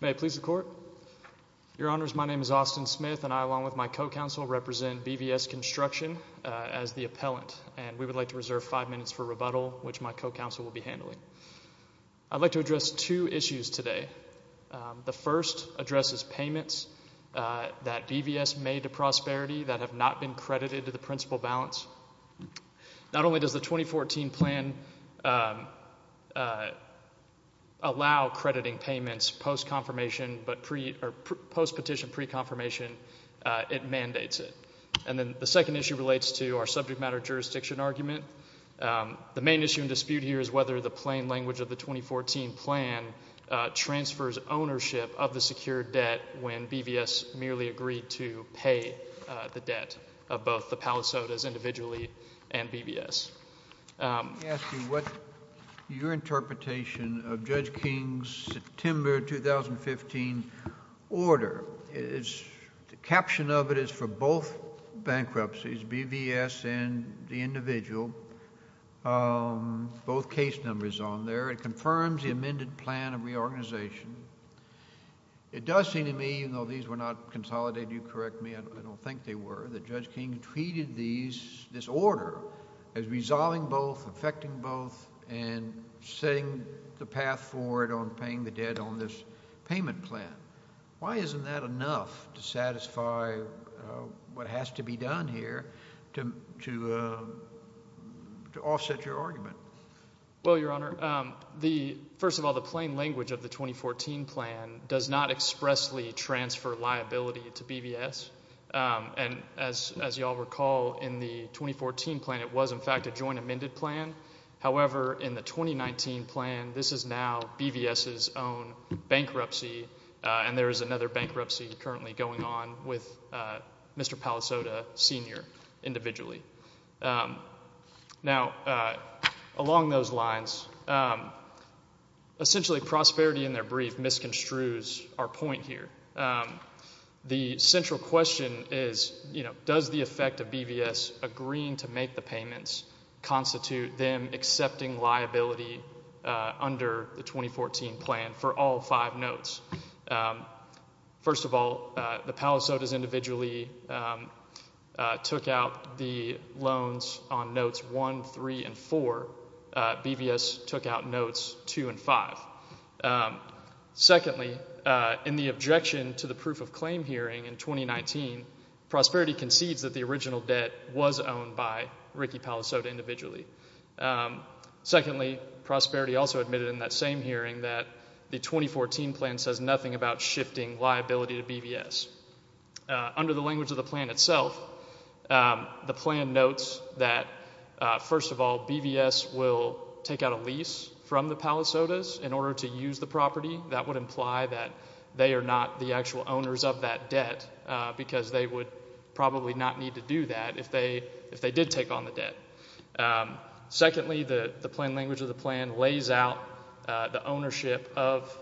May I please the court? Your honors, my name is Austin Smith and I along with my co-counsel represent BVS Construction as the appellant and we would like to reserve five minutes for rebuttal which my co-counsel will be handling. I'd like to address two issues today. The first addresses payments that BVS made to Prosperity that have not been credited to the principal balance. Not only does the 2014 plan allow crediting payments post-petition pre-confirmation, it mandates it. And then the second issue relates to our subject matter jurisdiction argument. The main issue and dispute here is whether the plain language of the 2014 plan transfers ownership of the secured debt when BVS merely agreed to pay the debt of both the Palisades individually and BVS. Let me ask you what your interpretation of Judge King's September 2015 order is. The caption of it is for both bankruptcies, BVS and the individual, both case numbers on there. It confirms the amended plan of reorganization. It does seem to me, even though these were not consolidated, you correct me, I don't think they were, that Judge King treated these, this order as resolving both, affecting both and setting the path forward on paying the debt on this payment plan. Why isn't that enough to satisfy what has to be done here to offset your argument? Well, Your Honor, first of all, the plain language of the 2014 plan does not expressly transfer liability to BVS. And as you all recall, in the 2014 plan, it was in fact a joint amended plan. However, in the 2019 plan, this is now BVS's own bankruptcy and there is another bankruptcy currently going on with Mr. Palisade, Sr. individually. Now along those lines, essentially prosperity in their brief misconstrues our point here. The central question is, you know, does the effect of BVS agreeing to make the payments constitute them accepting liability under the 2014 plan for all five notes? First of all, the Palisades individually took out the loans on notes one, three, and four. BVS took out notes two and five. Secondly, in the objection to the proof of claim hearing in 2019, prosperity concedes that the original debt was owned by Ricky Palisade individually. Secondly, prosperity also admitted in that same hearing that the 2014 plan says nothing about shifting liability to BVS. Under the language of the plan itself, the plan notes that, first of all, BVS will take out a lease from the Palisades in order to use the property. That would imply that they are not the actual owners of that debt because they would probably not need to do that if they did take on the debt. Secondly, the plain language of the plan lays out the ownership of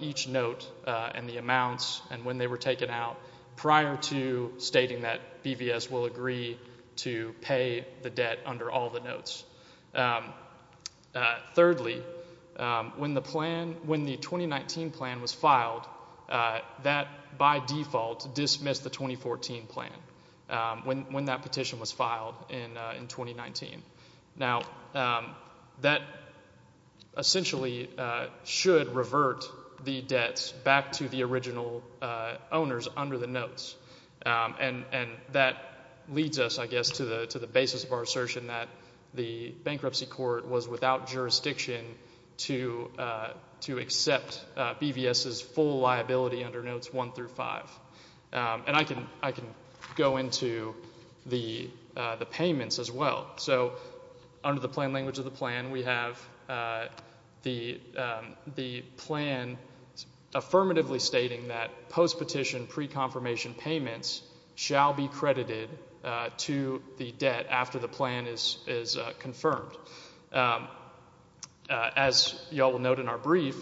each note and the amounts and when they were taken out prior to stating that BVS will agree to pay the debt under all the notes. Thirdly, when the 2019 plan was filed, that by default dismissed the 2014 plan, when that petition was filed in 2019. Now, that essentially should revert the debts back to the original owners under the notes, and that leads us, I guess, to the basis of our assertion that the bankruptcy court was without jurisdiction to accept BVS's full liability under notes one through five. I can go into the payments as well. Under the plain language of the plan, we have the plan affirmatively stating that postpetition pre-confirmation payments shall be credited to the debt after the plan is confirmed. As you all will note in our brief,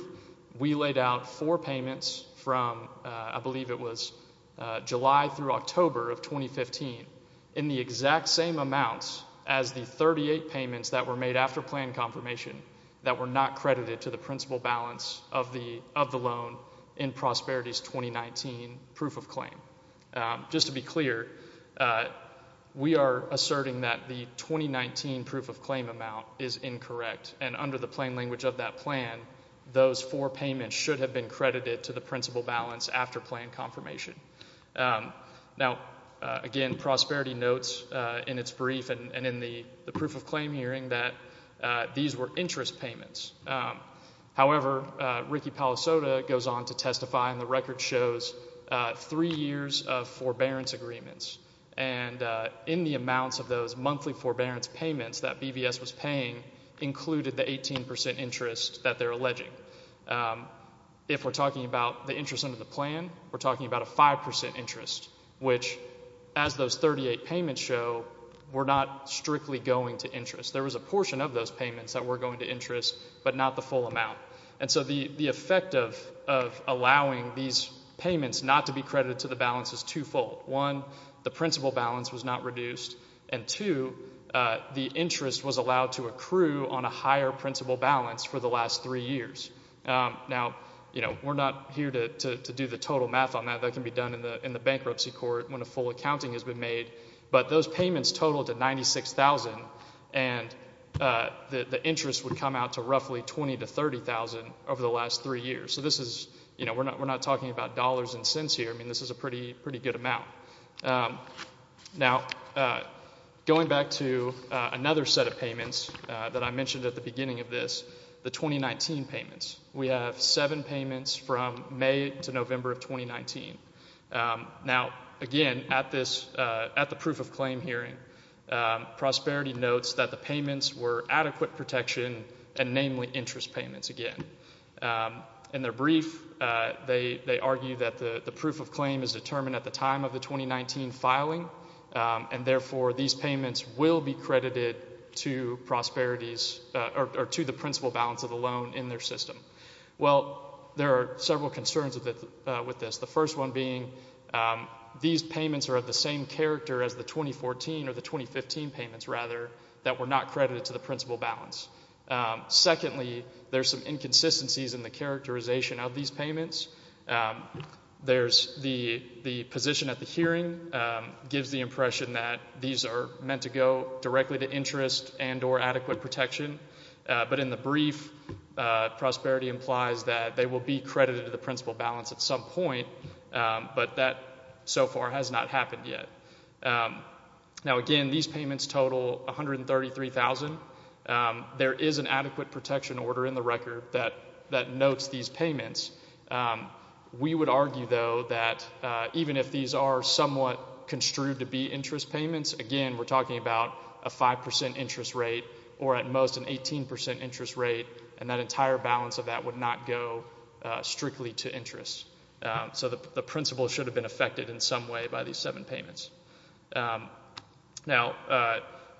we laid out four payments from, I believe it was July through October of 2015, in the exact same amounts as the 38 payments that were made after plan confirmation that were not credited to the principal balance of the loan in Prosperities 2019 proof of claim. Just to be clear, we are asserting that the 2019 proof of claim amount is incorrect, and under the plain language of that plan, those four payments should have been credited to the principal balance after plan confirmation. Now, again, Prosperity notes in its brief and in the proof of claim hearing that these were interest payments. However, Ricky Palosota goes on to testify, and the record shows three years of forbearance agreements, and in the amounts of those monthly forbearance payments that BVS was paying included the 18 percent interest that they're alleging. If we're talking about the interest under the plan, we're talking about a 5 percent interest, which, as those 38 payments show, were not strictly going to interest. There was a portion of those payments that were going to interest, but not the full amount. And so the effect of allowing these payments not to be credited to the balance is twofold. One, the principal balance was not reduced, and two, the interest was allowed to accrue on a higher principal balance for the last three years. Now, you know, we're not here to do the total math on that. That can be done in the bankruptcy court when a full accounting has been made. But those payments totaled to $96,000, and the interest would come out to roughly $20,000 to $30,000 over the last three years. So this is, you know, we're not talking about dollars and cents here. I mean, this is a pretty good amount. Now going back to another set of payments that I mentioned at the beginning of this, the 2019 payments. We have seven payments from May to November of 2019. Now, again, at this, at the proof of claim hearing, Prosperity notes that the payments were adequate protection and namely interest payments again. In their brief, they argue that the proof of claim is determined at the time of the 2019 filing, and therefore these payments will be credited to Prosperity's, or to the principal balance of the loan in their system. Well, there are several concerns with this. The first one being these payments are of the same character as the 2014 or the 2015 payments rather that were not credited to the principal balance. Secondly, there's some inconsistencies in the characterization of these payments. There's the position at the hearing gives the impression that these are meant to go directly to interest and or adequate protection. But in the brief, Prosperity implies that they will be credited to the principal balance at some point, but that so far has not happened yet. Now, again, these payments total $133,000. There is an adequate protection order in the record that notes these payments. We would argue, though, that even if these are somewhat construed to be interest payments, again, we're talking about a 5% interest rate or at most an 18% interest rate, and that entire balance of that would not go strictly to interest. So the principal should have been affected in some way by these seven payments. Now,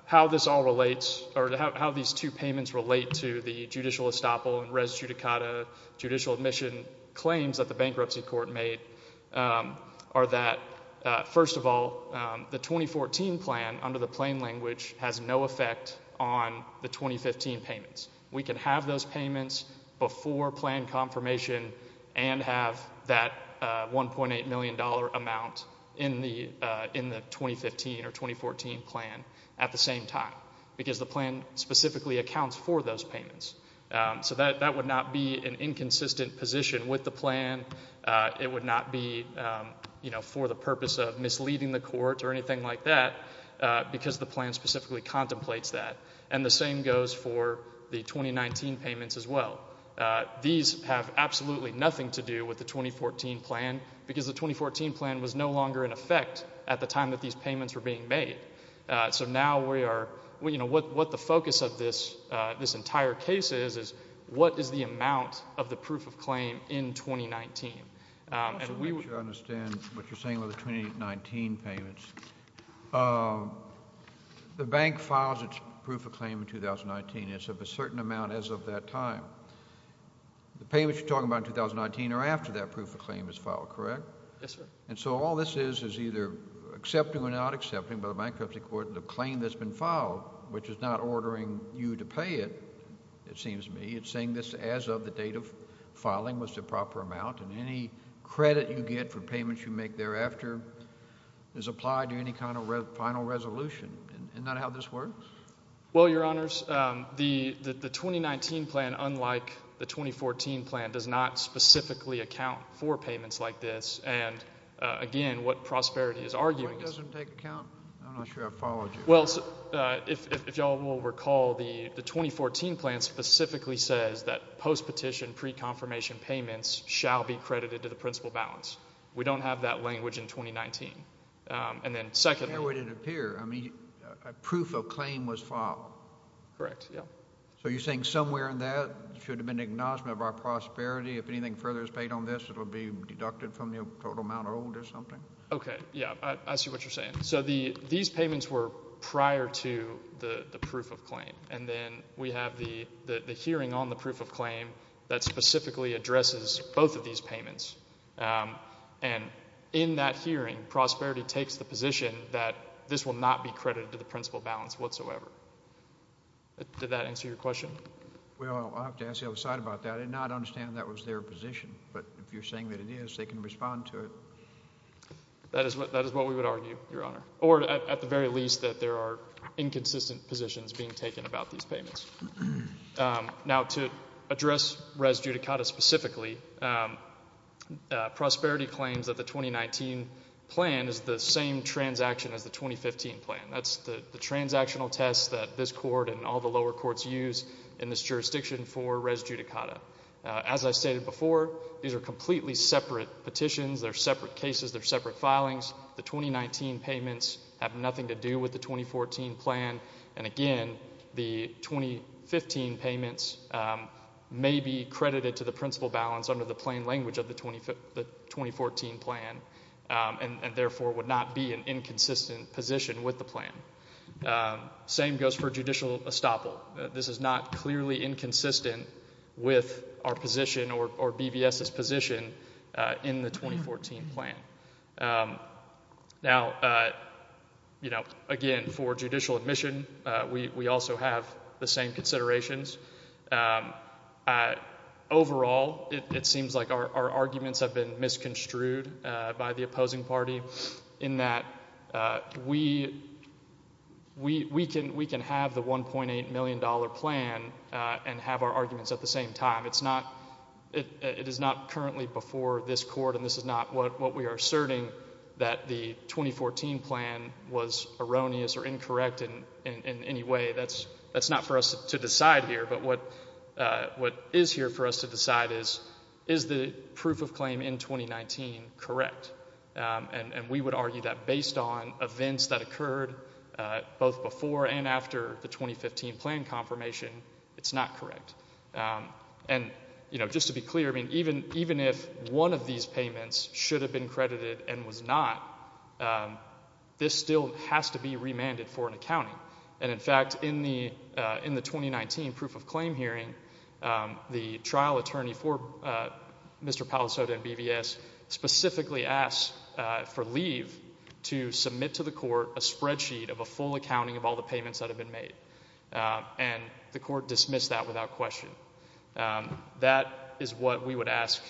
how this all relates or how these two payments relate to the judicial estoppel and res judicata judicial admission claims that the bankruptcy court made are that, first of all, the 2014 plan under the plain language has no effect on the 2015 payments. We can have those payments before plan confirmation and have that $1.8 million amount in the 2015 or 2014 plan at the same time, because the plan specifically accounts for those payments. So that would not be an inconsistent position with the plan. It would not be, you know, for the purpose of misleading the court or anything like that, because the plan specifically contemplates that. And the same goes for the 2019 payments as well. These have absolutely nothing to do with the 2014 plan, because the 2014 plan was no longer in effect at the time that these payments were being made. So now we are, you know, what the focus of this entire case is, is what is the amount of the proof of claim in 2019. And we would. I understand what you're saying with the 2019 payments. The bank files its proof of claim in 2019. It's of a certain amount as of that time. The payments you're talking about in 2019 are after that proof of claim is filed, correct? Yes, sir. And so all this is is either accepting or not accepting by the bankruptcy court the claim that's been filed, which is not ordering you to pay it, it seems to me. It's saying this as of the date of filing was the proper amount. And any credit you get for payments you make thereafter is applied to any kind of final resolution. Isn't that how this works? Well, Your Honors, the 2019 plan, unlike the 2014 plan, does not specifically account for payments like this. And again, what Prosperity is arguing is. The one that doesn't take account? I'm not sure I followed you. Well, if you all will recall, the 2014 plan specifically says that post-petition pre-confirmation payments shall be credited to the principal balance. We don't have that language in 2019. And then secondly. Where would it appear? I mean, a proof of claim was filed. Correct. Yeah. So you're saying somewhere in that should have been an acknowledgment of our prosperity. If anything further is paid on this, it'll be deducted from the total amount owed or something? Okay. Yeah, I see what you're saying. So these payments were prior to the proof of claim. And then we have the hearing on the proof of claim that specifically addresses both of these payments. And in that hearing, Prosperity takes the position that this will not be credited to the principal balance whatsoever. Did that answer your question? Well, I'll have to ask the other side about that. I did not understand that was their position. But if you're saying that it is, they can respond to it. That is what we would argue, Your Honor. Or at the very least, that there are inconsistent positions being taken about these payments. Now, to address Res Judicata specifically, Prosperity claims that the 2019 plan is the same transaction as the 2015 plan. That's the transactional test that this court and all the lower courts use in this jurisdiction for Res Judicata. As I stated before, these are completely separate petitions. They're separate cases. They're separate filings. The 2019 payments have nothing to do with the 2014 plan. And again, the 2015 payments may be credited to the principal balance under the plain language of the 2014 plan, and therefore would not be an inconsistent position with the plan. Same goes for judicial estoppel. This is not clearly inconsistent with our position or BVS's position in the 2014 plan. Now, you know, again, for judicial admission, we also have the same considerations. Overall, it seems like our arguments have been misconstrued by the opposing party in that we can have the $1.8 million plan and have our arguments at the same time. It is not currently before this court, and this is not what we are asserting, that the 2014 plan was erroneous or incorrect in any way. That's not for us to decide here. But what is here for us to decide is, is the proof of claim in 2019 correct? And we would argue that based on events that occurred both before and after the 2015 plan confirmation, it's not correct. And, you know, just to be clear, I mean, even if one of these payments should have been credited and was not, this still has to be remanded for an accounting. And, in fact, in the 2019 proof of claim hearing, the trial attorney for Mr. Palazotto and BVS specifically asked for leave to submit to the court a spreadsheet of a full accounting of all the payments that have been made. And the court dismissed that without question. That is what we would ask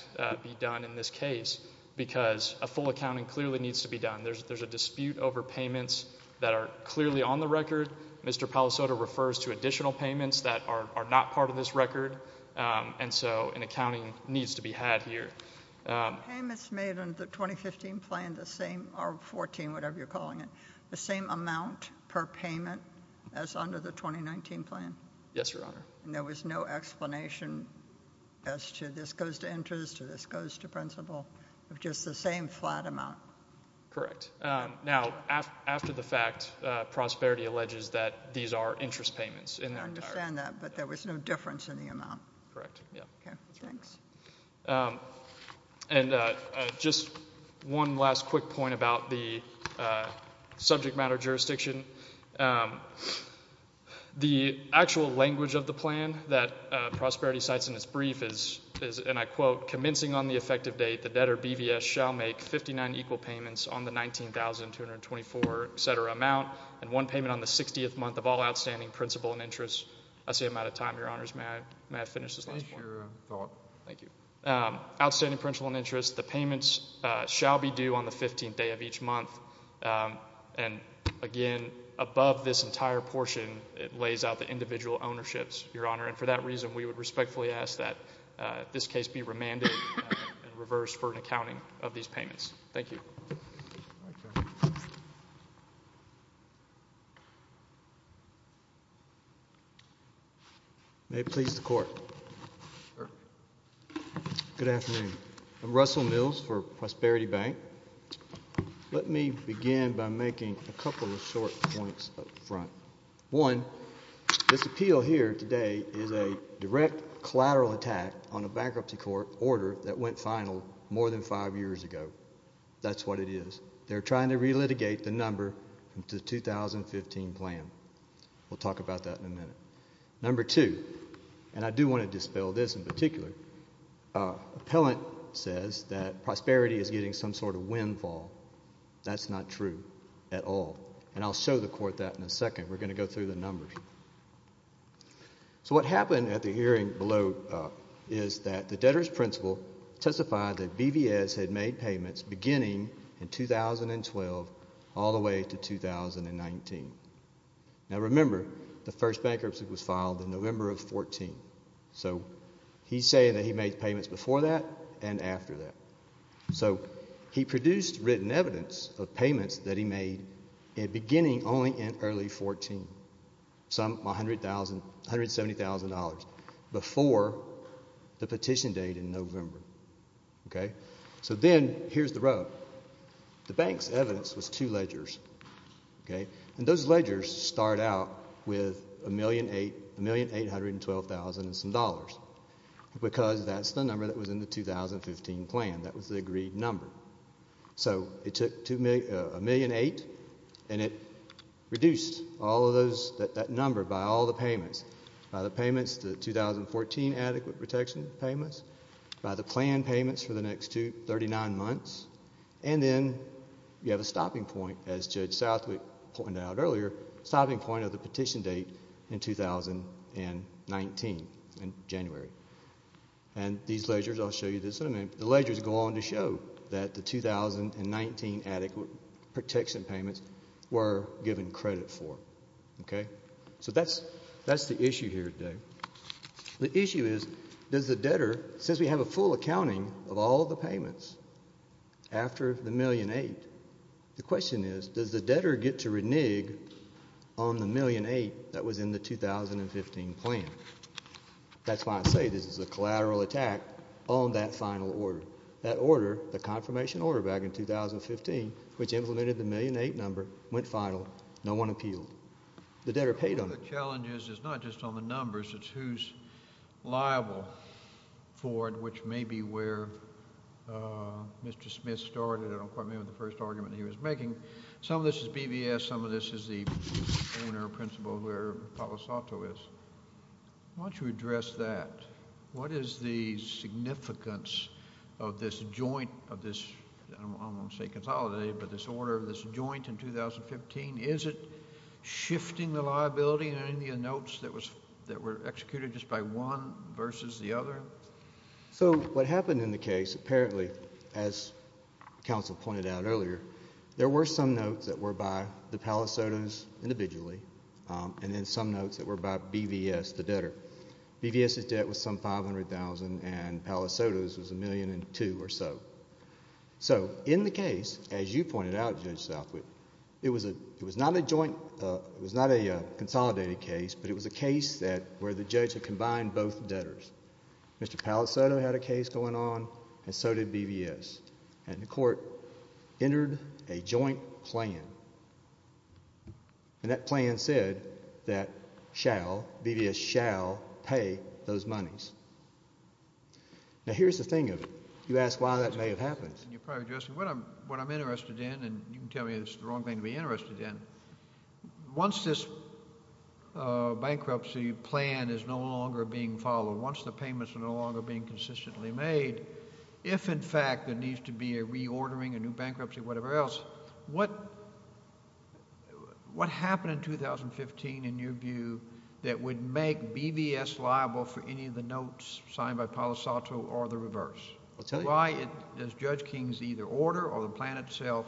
be done in this case, because a full accounting clearly needs to be done. There's a dispute over payments that are clearly on the record. Mr. Palazotto refers to additional payments that are not part of this record, and so an accounting needs to be had here. Payments made in the 2015 plan, the same, or 14, whatever you're calling it, the same amount per payment as under the 2019 plan? Yes, Your Honor. And there was no explanation as to this goes to interest, or this goes to principal, of just the same flat amount? Correct. Now, after the fact, Prosperity alleges that these are interest payments in their entirety. I understand that, but there was no difference in the amount? Correct, yeah. Okay, thanks. And just one last quick point about the subject matter jurisdiction. The actual language of the plan that Prosperity cites in its brief is, and I quote, commencing on the effective date, the debtor BVS shall make 59 equal payments on the 19,224, et cetera, amount, and one payment on the 60th month of all outstanding principal and interest. I see I'm out of time, Your Honors. May I finish this last point? Thank you. Outstanding principal and interest, the payments shall be due on the 15th day of each month. And again, above this entire portion, it lays out the individual ownerships, Your Honor, and for that reason, we would respectfully ask that this case be remanded and reversed for an accounting of these payments. Thank you. May it please the Court. Sir. Good afternoon. I'm Russell Mills for Prosperity Bank. Let me begin by making a couple of short points up front. One, this appeal here today is a direct collateral attack on a bankruptcy court order that went final more than five years ago. That's what it is. They're trying to relitigate the number to the 2015 plan. We'll talk about that in a minute. The appellant says that prosperity is getting some sort of windfall. That's not true at all. And I'll show the court that in a second. We're going to go through the numbers. So what happened at the hearing below is that the debtor's principal testified that BVS had made payments beginning in 2012 all the way to 2019. Now, remember, the first bankruptcy was filed in November of 14. So he's saying that he made payments before that and after that. So he produced written evidence of payments that he made beginning only in early 14, some $170,000 before the petition date in November. Okay? So then here's the rub. The bank's evidence was two ledgers, okay? And those ledgers start out with $1,812,000 and some dollars because that's the number that was in the 2015 plan. That was the agreed number. So it took $1,800,000 and it reduced all of those, that number by all the payments, by the payments, the 2014 adequate protection payments, by the plan payments for the next two, 39 months, and then you have a stopping point as Judge Southwick pointed out earlier, stopping point of the petition date in 2019, in January. And these ledgers, I'll show you this in a minute, the ledgers go on to show that the 2019 adequate protection payments were given credit for. Okay? So that's the issue here today. The issue is, does the debtor, since we have a full accounting of all the payments after the $1,800,000, the question is, does the debtor get to renege on the $1,800,000 that was in the 2015 plan? That's why I say this is a collateral attack on that final order. That order, the confirmation order back in 2015, which implemented the $1,800,000 number, went final. No one appealed. The debtor paid on it. One of the challenges is not just on the numbers, it's who's liable for it, which may be where Mr. Smith started. I don't quite remember the first argument he was making. Some of this is BVS, some of this is the owner, principal, where Palosato is. Why don't you address that? What is the significance of this joint, of this, I don't want to say consolidated, but this order, this joint in 2015, is it shifting the liability in any of the notes that were executed just by one versus the other? So what happened in the case, apparently, as counsel pointed out earlier, there were some notes that were by the Palosatos individually, and then some notes that were by BVS, the debtor. BVS's debt was some $500,000, and Palosato's was $1,002,000 or so. So in the case, as you pointed out, Judge Southwick, it was not a joint, it was not a consolidated case, but it was a case that where the judge had combined both debtors. Mr. Palosato had a case going on, and so did BVS, and the court entered a joint plan. And that plan said that shall, BVS shall pay those monies. Now here's the thing of it. You ask why that may have happened. You're probably addressing what I'm interested in, and you can tell me it's the wrong thing to be interested in. Once this bankruptcy plan is no longer being followed, once the payments are no longer being consistently made, if in fact there needs to be a reordering, a new bankruptcy, whatever else, what happened in 2015, in your view, that would make BVS liable for any of the notes signed by Palosato or the reverse? Why does Judge King's either order or the plan itself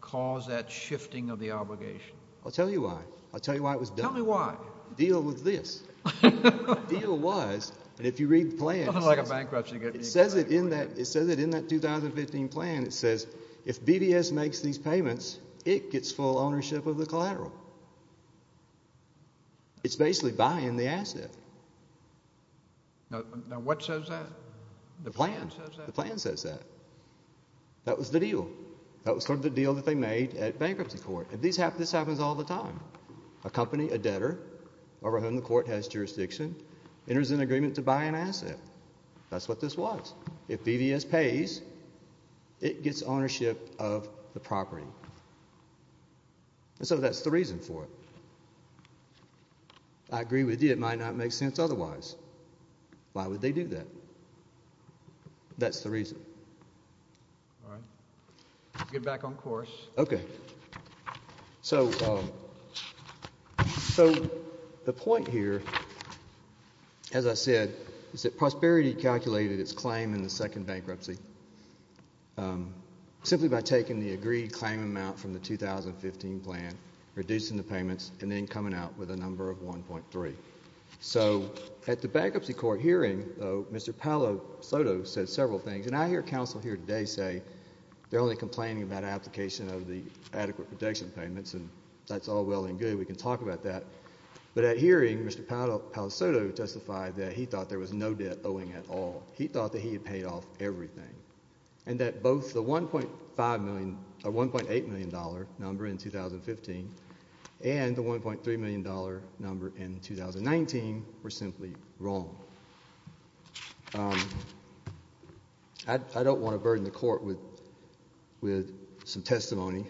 cause that shifting of the obligation? I'll tell you why. I'll tell you why it was done. Tell me why. Deal with this. Deal was, and if you read the plan, it says it in that 2015 plan, it says, if BVS makes these payments, it gets full ownership of the collateral. It's basically buying the asset. Now what says that? The plan. The plan says that. That was the deal. That was sort of the deal that they made at bankruptcy court. And this happens all the time. A company, a debtor, over whom the court has jurisdiction, enters an agreement to buy an asset. That's what this was. If BVS pays, it gets ownership of the property. And so that's the reason for it. I agree with you, it might not make sense otherwise. Why would they do that? That's the reason. All right. Get back on course. OK. So the point here, as I said, is that Prosperity calculated its claim in the second bankruptcy simply by taking the agreed claim amount from the 2015 plan, reducing the payments, and then coming out with a number of 1.3. So at the bankruptcy court hearing, Mr. Palosoto said several things. And I hear counsel here today say they're only complaining about application of the adequate protection payments, and that's all well and good. We can talk about that. But at hearing, Mr. Palosoto testified that he thought there was no debt owing at all. He thought that he had paid off everything. And that both the $1.8 million number in 2015 and the $1.3 million number in 2019 were simply wrong. I don't want to burden the court with some testimony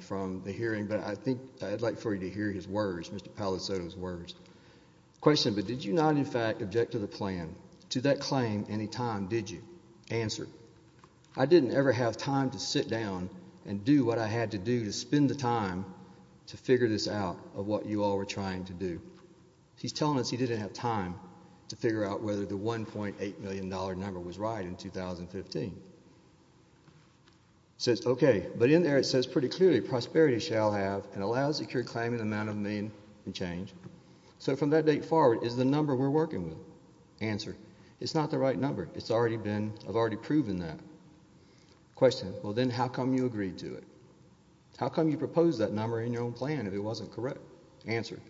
from the hearing, but I think I'd like for you to hear his words, Mr. Palosoto's words. Question, but did you not, in fact, object to the plan, to that claim, any time, did you? Answer, I didn't ever have time to sit down and do what I had to do to spend the time to figure this out, of what you all were trying to do. He's telling us he didn't have time to figure out whether the $1.8 million number was right in 2015. Says, OK, but in there it says pretty clearly, prosperity shall have and allow secure claim in the amount of a million and change. So from that date forward, is the number we're working with? Answer, it's not the right number. It's already been, I've already proven that. Question, well, then how come you agreed to it? How come you proposed that number in your own plan if it wasn't correct? Answer,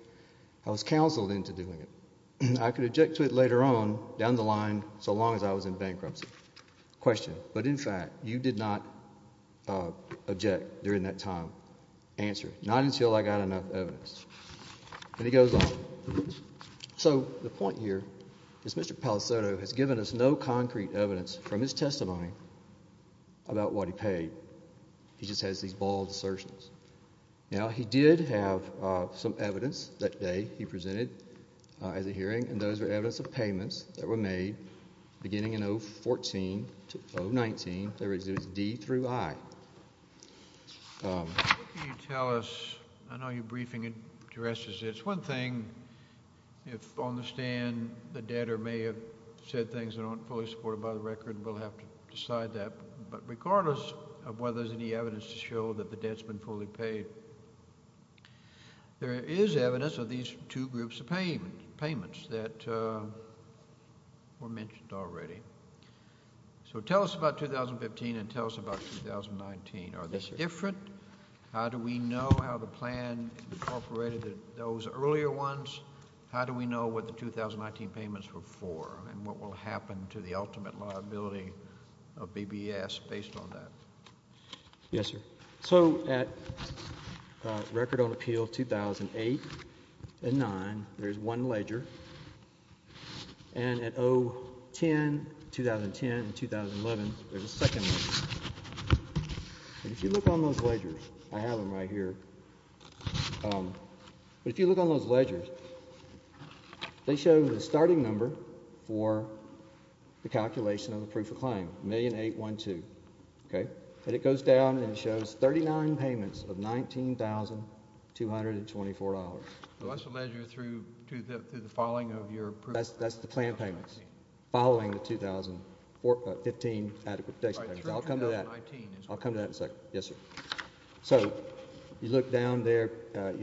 I was counseled into doing it. I could object to it later on, down the line, so long as I was in bankruptcy. Question, but in fact, you did not object during that time. Answer, not until I got enough evidence. And he goes on. So the point here is Mr. Palosoto has given us no concrete evidence from his testimony about what he paid. He just has these bald assertions. Now, he did have some evidence that day he presented as a hearing. And those were evidence of payments that were made beginning in 014 to 019. There was D through I. What can you tell us? I know you're briefing addresses. It's one thing if on the stand the debtor may have said things that aren't fully supported by the record. We'll have to decide that. But regardless of whether there's any evidence to show that the debt's been fully paid, there is evidence of these two groups of payments that were mentioned already. So tell us about 2015 and tell us about 2019. Are they different? How do we know how the plan incorporated those earlier ones? How do we know what the 2019 payments were for and what will happen to the ultimate liability of BBS based on that? Yes, sir. So at Record on Appeal 2008 and 2009, there's one ledger. And at 010, 2010, and 2011, there's a second ledger. If you look on those ledgers, I have them right here. If you look on those ledgers, they show the starting number for the calculation of the proof of claim, $1,812,000. And it goes down and shows 39 payments of $19,224. So that's the ledger through the following of your proof of claim? That's the plan payments following the 2015 adequate protection payments. I'll come to that. I'll come to that in a second. Yes, sir. You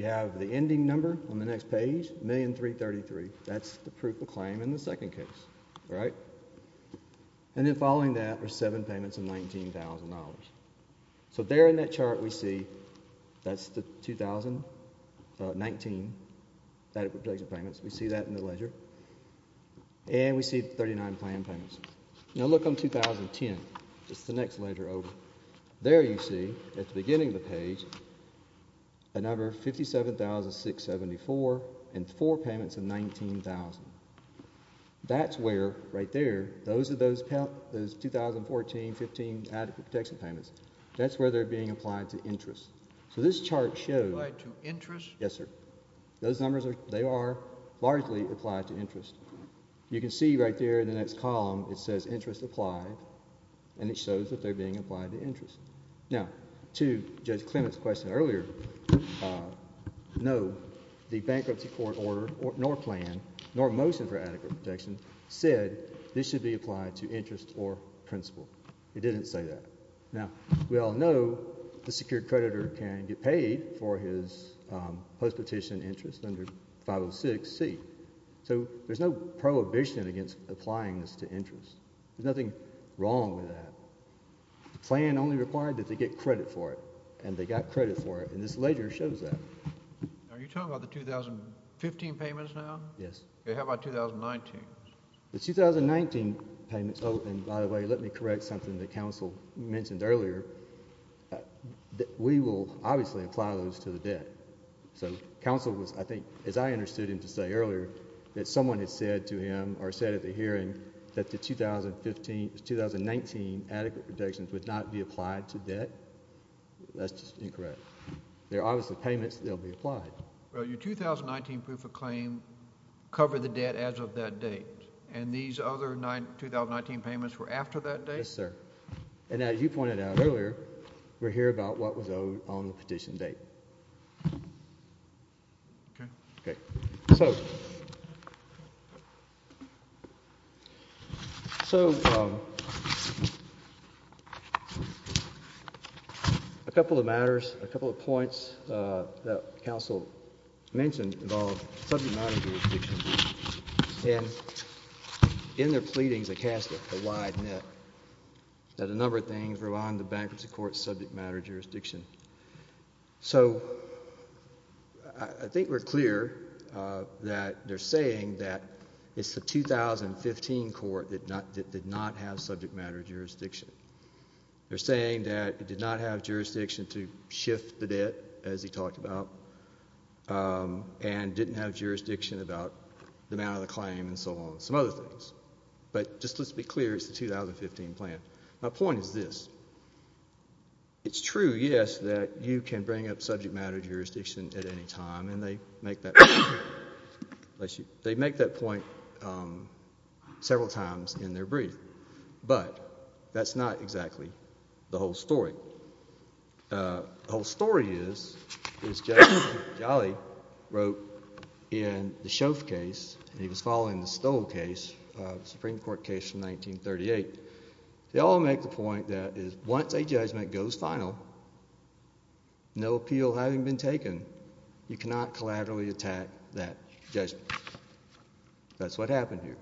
have the ending number on the next page, $1,333,000. That's the proof of claim in the second case, all right? And then following that are seven payments of $19,000. So there in that chart, we see that's the 2019 adequate protection payments. We see that in the ledger. And we see 39 plan payments. Now look on 2010. It's the next ledger over. There you see, at the beginning of the page, a number of $57,674 and four payments of $19,000. That's where, right there, those are those 2014, 2015 adequate protection payments. That's where they're being applied to interest. So this chart shows. Applied to interest? Yes, sir. Those numbers, they are largely applied to interest. You can see right there in the next column, it says interest applied. And it shows that they're being applied to interest. Now, to Judge Clement's question earlier, no. The bankruptcy court order, nor plan, nor motion for adequate protection said this should be applied to interest or principal. It didn't say that. Now, we all know the secured creditor can get paid for his post-petition interest under 506C. So there's no prohibition against applying this to interest. There's nothing wrong with that. Plan only required that they get credit for it. And they got credit for it. And this ledger shows that. Are you talking about the 2015 payments now? Yes. How about 2019? The 2019 payments, oh, and by the way, let me correct something that counsel mentioned earlier. We will obviously apply those to the debt. So counsel was, I think, as I understood him to say earlier, that someone had said to him, or said at the hearing, that the 2019 adequate protections would not be applied to debt. That's just incorrect. There are obviously payments that will be applied. Well, your 2019 proof of claim covered the debt as of that date. And these other 2019 payments were after that date? Yes, sir. And as you pointed out earlier, we're here about what was owed on the petition date. OK. OK. So a couple of matters, a couple of points that counsel mentioned involve subject matter jurisdiction. And in their pleadings, they cast a wide net that a number of things were on the bankruptcy court's subject matter jurisdiction. So I think we're clear that they're saying that it's the 2015 court that did not have subject matter jurisdiction. They're saying that it did not have jurisdiction to shift the debt, as he talked about, and didn't have jurisdiction about the amount of the claim and so on, some other things. But just let's be clear, it's the 2015 plan. My point is this. It's true, yes, that you can bring up subject matter jurisdiction at any time, and they make that point several times in their brief. But that's not exactly the whole story. The whole story is, as Judge Jolly wrote in the Shoeff case, and he was following the Stoll case, the Supreme Court case from 1938, they all make the point that once a judgment goes final, no appeal having been taken, you cannot collaboratively attack that judgment. That's what happened here.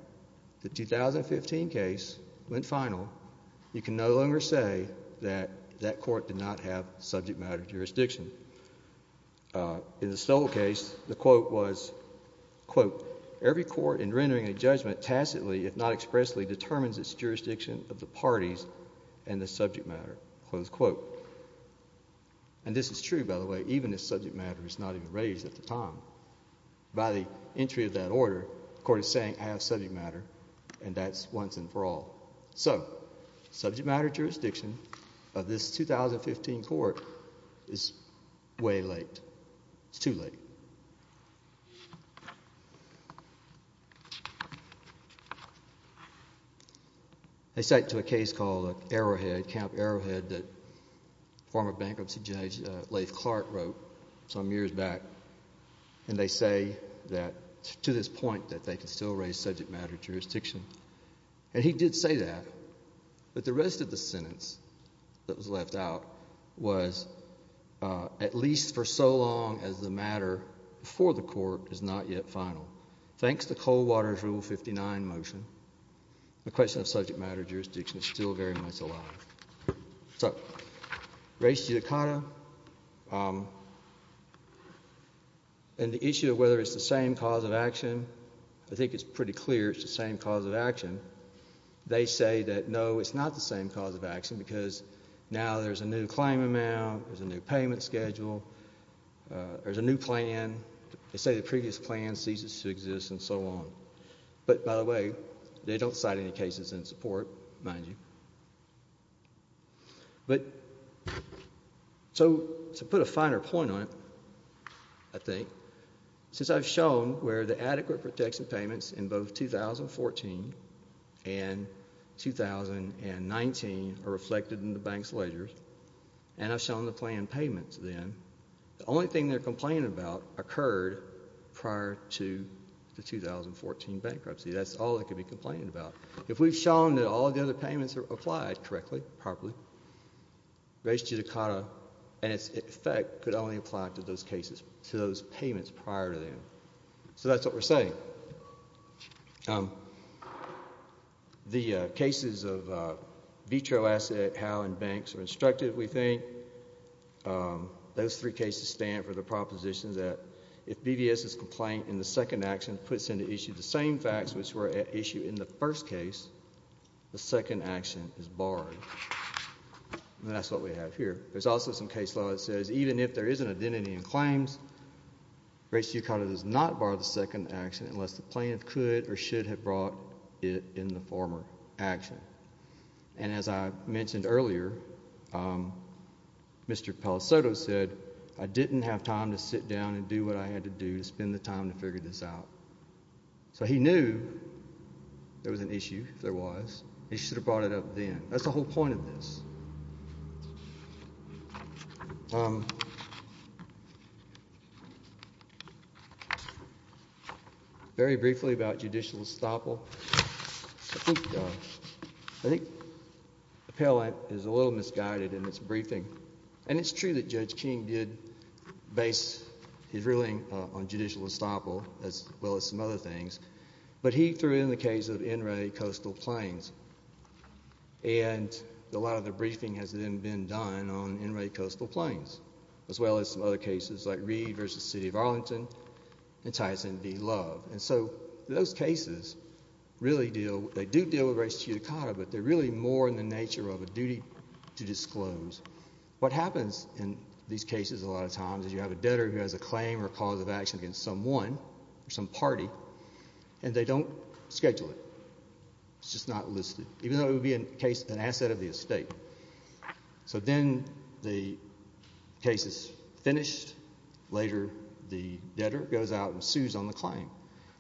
The 2015 case went final. You can no longer say that that court did not have subject matter jurisdiction. In the Stoll case, the quote was, quote, every court in rendering a judgment tacitly, if not expressly, determines its jurisdiction of the parties and the subject matter, close quote. And this is true, by the way. Even if subject matter is not even raised at the time. By the entry of that order, the court is saying I have subject matter, and that's once and for all. So subject matter jurisdiction of this 2015 court is way late. It's too late. I cite to a case called Arrowhead, Camp Arrowhead, that former bankruptcy judge Lathe Clark wrote some years back. And they say that to this point, that they can still raise subject matter jurisdiction. And he did say that. But the rest of the sentence that was left out was, at least for so long as the matter before the court is not yet final. Thanks to Coldwater's Rule 59 motion, the question of subject matter jurisdiction is still very much alive. So, race judicata, and the issue of whether it's the same cause of action, I think it's pretty clear it's the same cause of action. They say that, no, it's not the same cause of action, because now there's a new claim amount, there's a new payment schedule, there's a new plan. They say the previous plan ceases to exist, and so on. But by the way, they don't cite any cases in support, mind you. But to put a finer point on it, I think, since I've shown where the adequate protection payments in both 2014 and 2019 are reflected in the bank's ledgers, and I've shown the plan payments then, the only thing they're complaining about occurred prior to the 2014 bankruptcy. That's all they could be complaining about. If we've shown that all the other payments are applied correctly, properly, race judicata, in effect, could only apply to those cases, to those payments prior to them. So that's what we're saying. The cases of veto asset, how and banks are instructed, we think, those three cases stand for the propositions that if BDS's complaint in the second action puts into issue the same facts which were at issue in the first case, the second action is barred. That's what we have here. There's also some case law that says, even if there is an identity in claims, race judicata does not bar the second action unless the plaintiff could or should have brought it in the former action. And as I mentioned earlier, Mr. Pellicotto said, I didn't have time to sit down and do what I had to do to spend the time to figure this out. So he knew there was an issue, if there was. He should have brought it up then. That's the whole point of this. Very briefly about judicial estoppel, I think Appellant is a little misguided in this briefing. And it's true that Judge King did base his ruling on judicial estoppel, as well as some other things. But he threw in the case of NRA Coastal Plains. And a lot of the briefing has then been done on NRA Coastal Plains, as well as some other cases like Reed versus City of Arlington and Tyson v. Love. And so those cases really deal, they do deal with race judicata, but they're really more in the nature of a duty to disclose. What happens in these cases a lot of times is you have a debtor who has a claim or cause of action against someone or some party, and they don't schedule it. It's just not listed, even though it would be an asset of the estate. So then the case is finished. Later, the debtor goes out and sues on the claim.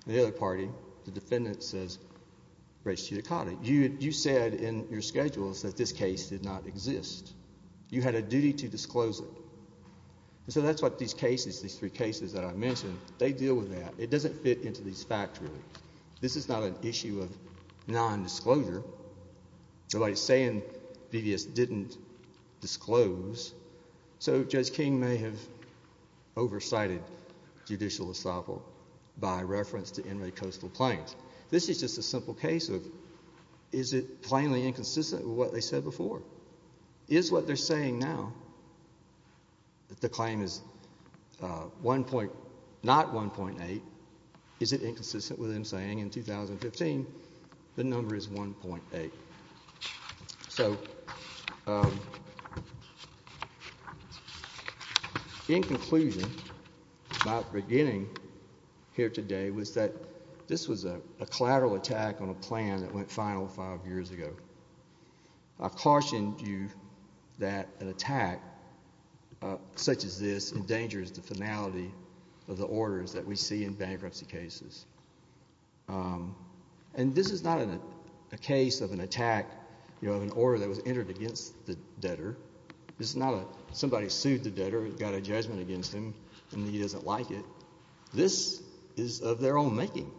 The other party, the defendant says race judicata. You said in your schedules that this case did not exist. You had a duty to disclose it. So that's what these cases, these three cases that I mentioned, they deal with that. It doesn't fit into these facts really. This is not an issue of non-disclosure. So by saying VVS didn't disclose, so Judge King may have oversighted judicial estoppel by reference to NRA Coastal Plains. This is just a simple case of, is it plainly inconsistent with what they said before? Is what they're saying now, that the claim is not 1.8, is it inconsistent with them saying in 2015, the number is 1.8? So in conclusion, my beginning here today was that this was a collateral attack on a plan that went final five years ago. I've cautioned you that an attack such as this endangers the finality of the orders that we see in bankruptcy cases. And this is not a case of an attack, of an order that was entered against the debtor. This is not somebody sued the debtor, got a judgment against him, and he doesn't like it. This is of their own making.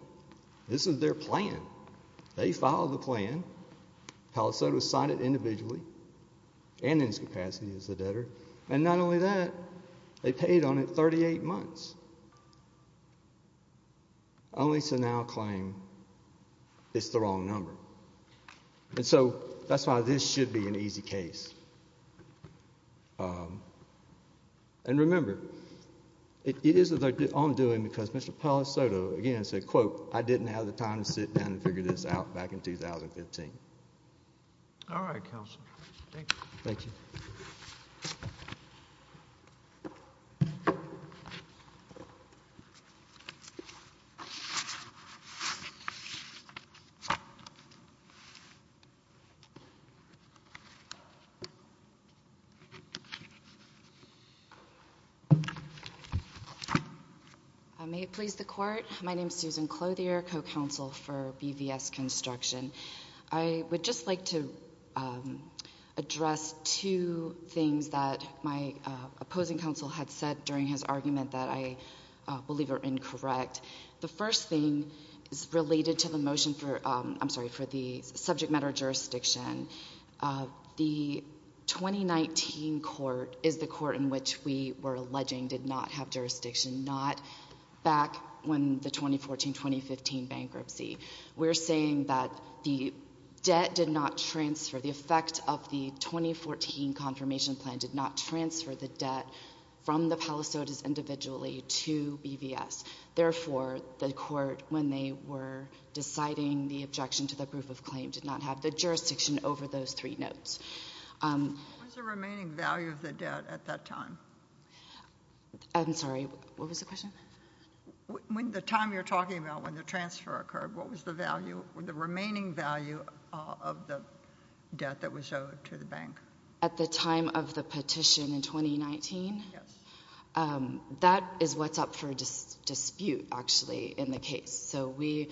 This is their plan. They filed the plan. Palosotos signed it individually, and in its capacity as the debtor. And not only that, they paid on it 38 months, only to now claim it's the wrong number. And so that's why this should be an easy case. And remember, it is of their own doing, because Mr. Palosotos, again, said, quote, I didn't have the time to sit down and figure this out back in 2015. All right, counsel. Thank you. Thank you. May it please the court. My name's Susan Clothier, co-counsel for BVS Construction. I would just like to address two things that my opposing counsel had said during his argument that I believe are incorrect. The first thing is related to the motion for, I'm sorry, for the subject matter jurisdiction. The 2019 court is the court in which we were alleging did not have jurisdiction. Not back when the 2014-2015 bankruptcy. We're saying that the debt did not transfer. The effect of the 2014 confirmation plan did not transfer the debt from the Palosotos individually to BVS. Therefore, the court, when they were deciding the objection to the proof of claim, did not have the jurisdiction over those three notes. What was the remaining value of the debt at that time? I'm sorry. What was the question? When the time you're talking about when the transfer occurred, what was the value, the remaining value of the debt that was owed to the bank? At the time of the petition in 2019? Yes. That is what's up for dispute, actually, in the case. So we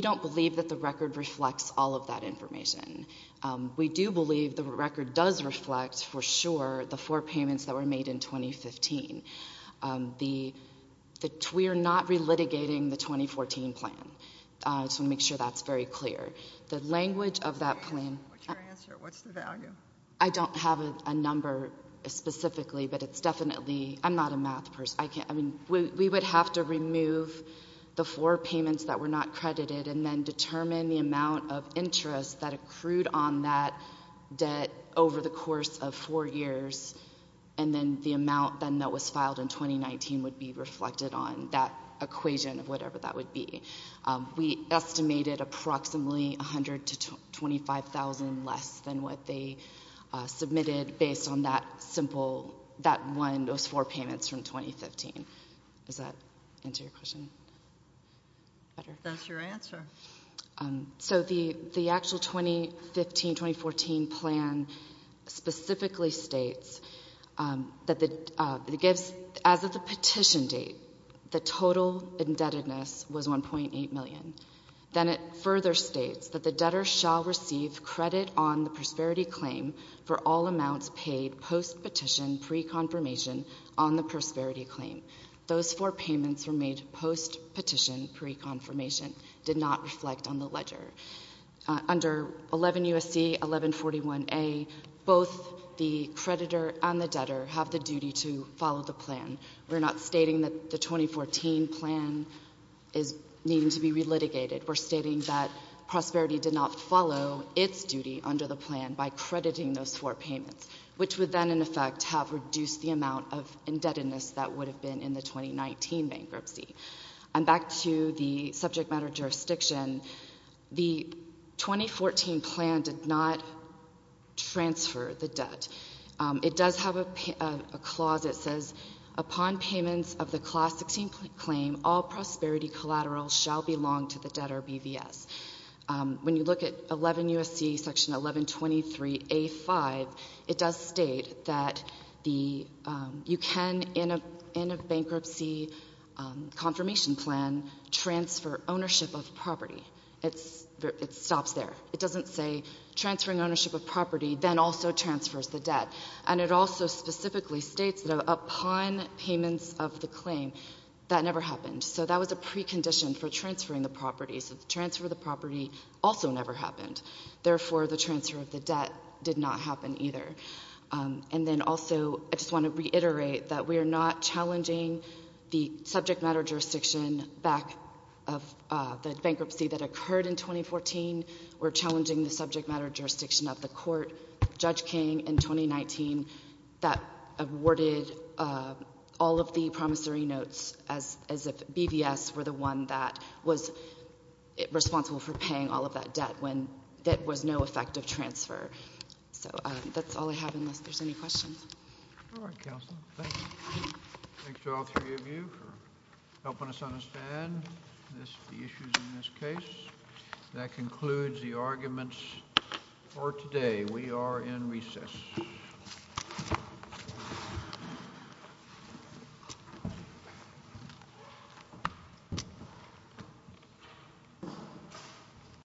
don't believe that the record reflects all of that information. We do believe the record does reflect, for sure, the four payments that were made in 2015. We are not relitigating the 2014 plan. I just want to make sure that's very clear. The language of that plan. What's your answer? What's the value? I don't have a number specifically, but it's definitely, I'm not a math person. I mean, we would have to remove the four payments that were not credited and then determine the amount of interest that was paid in those four years, and then the amount then that was filed in 2019 would be reflected on that equation of whatever that would be. We estimated approximately $100,000 to $25,000 less than what they submitted based on that simple, that one, those four payments from 2015. Does that answer your question better? That's your answer. So the actual 2015-2014 plan specifically states that it gives, as of the petition date, the total indebtedness was $1.8 million. Then it further states that the debtor shall receive credit on the prosperity claim for all amounts paid post-petition pre-confirmation on the prosperity claim. Those four payments were made post-petition pre-confirmation, did not reflect on the ledger. Under 11 U.S.C. 1141A, both the creditor and the debtor have the duty to follow the plan. We're not stating that the 2014 plan is needing to be relitigated. We're stating that prosperity did not follow its duty under the plan by crediting those four payments, which would then, in effect, have reduced the amount of indebtedness that would have been in the 2019 bankruptcy. And back to the subject matter of jurisdiction, the 2014 plan did not transfer the debt. It does have a clause that says, upon payments of the Clause 16 claim, all prosperity collaterals shall belong to the debtor BVS. When you look at 11 U.S.C. Section 1123A-5, it does state that you can, in a bankruptcy confirmation plan, transfer ownership of property. It stops there. It doesn't say transferring ownership of property, then also transfers the debt. And it also specifically states that upon payments of the claim that never happened. So that was a precondition for transferring the property. So the transfer of the property also never happened. Therefore, the transfer of the debt did not happen either. And then also, I just want to reiterate that we are not subject matter of jurisdiction back of the bankruptcy that occurred in 2014. We're challenging the subject matter of jurisdiction of the court, Judge King, in 2019 that awarded all of the promissory notes as if BVS were the one that was responsible for paying all of that debt when that was no effective transfer. So that's all I have unless there's any questions. All right, Counselor. Thank you. Thanks to all three of you for helping us understand the issues in this case. That concludes the arguments for today. We are in recess.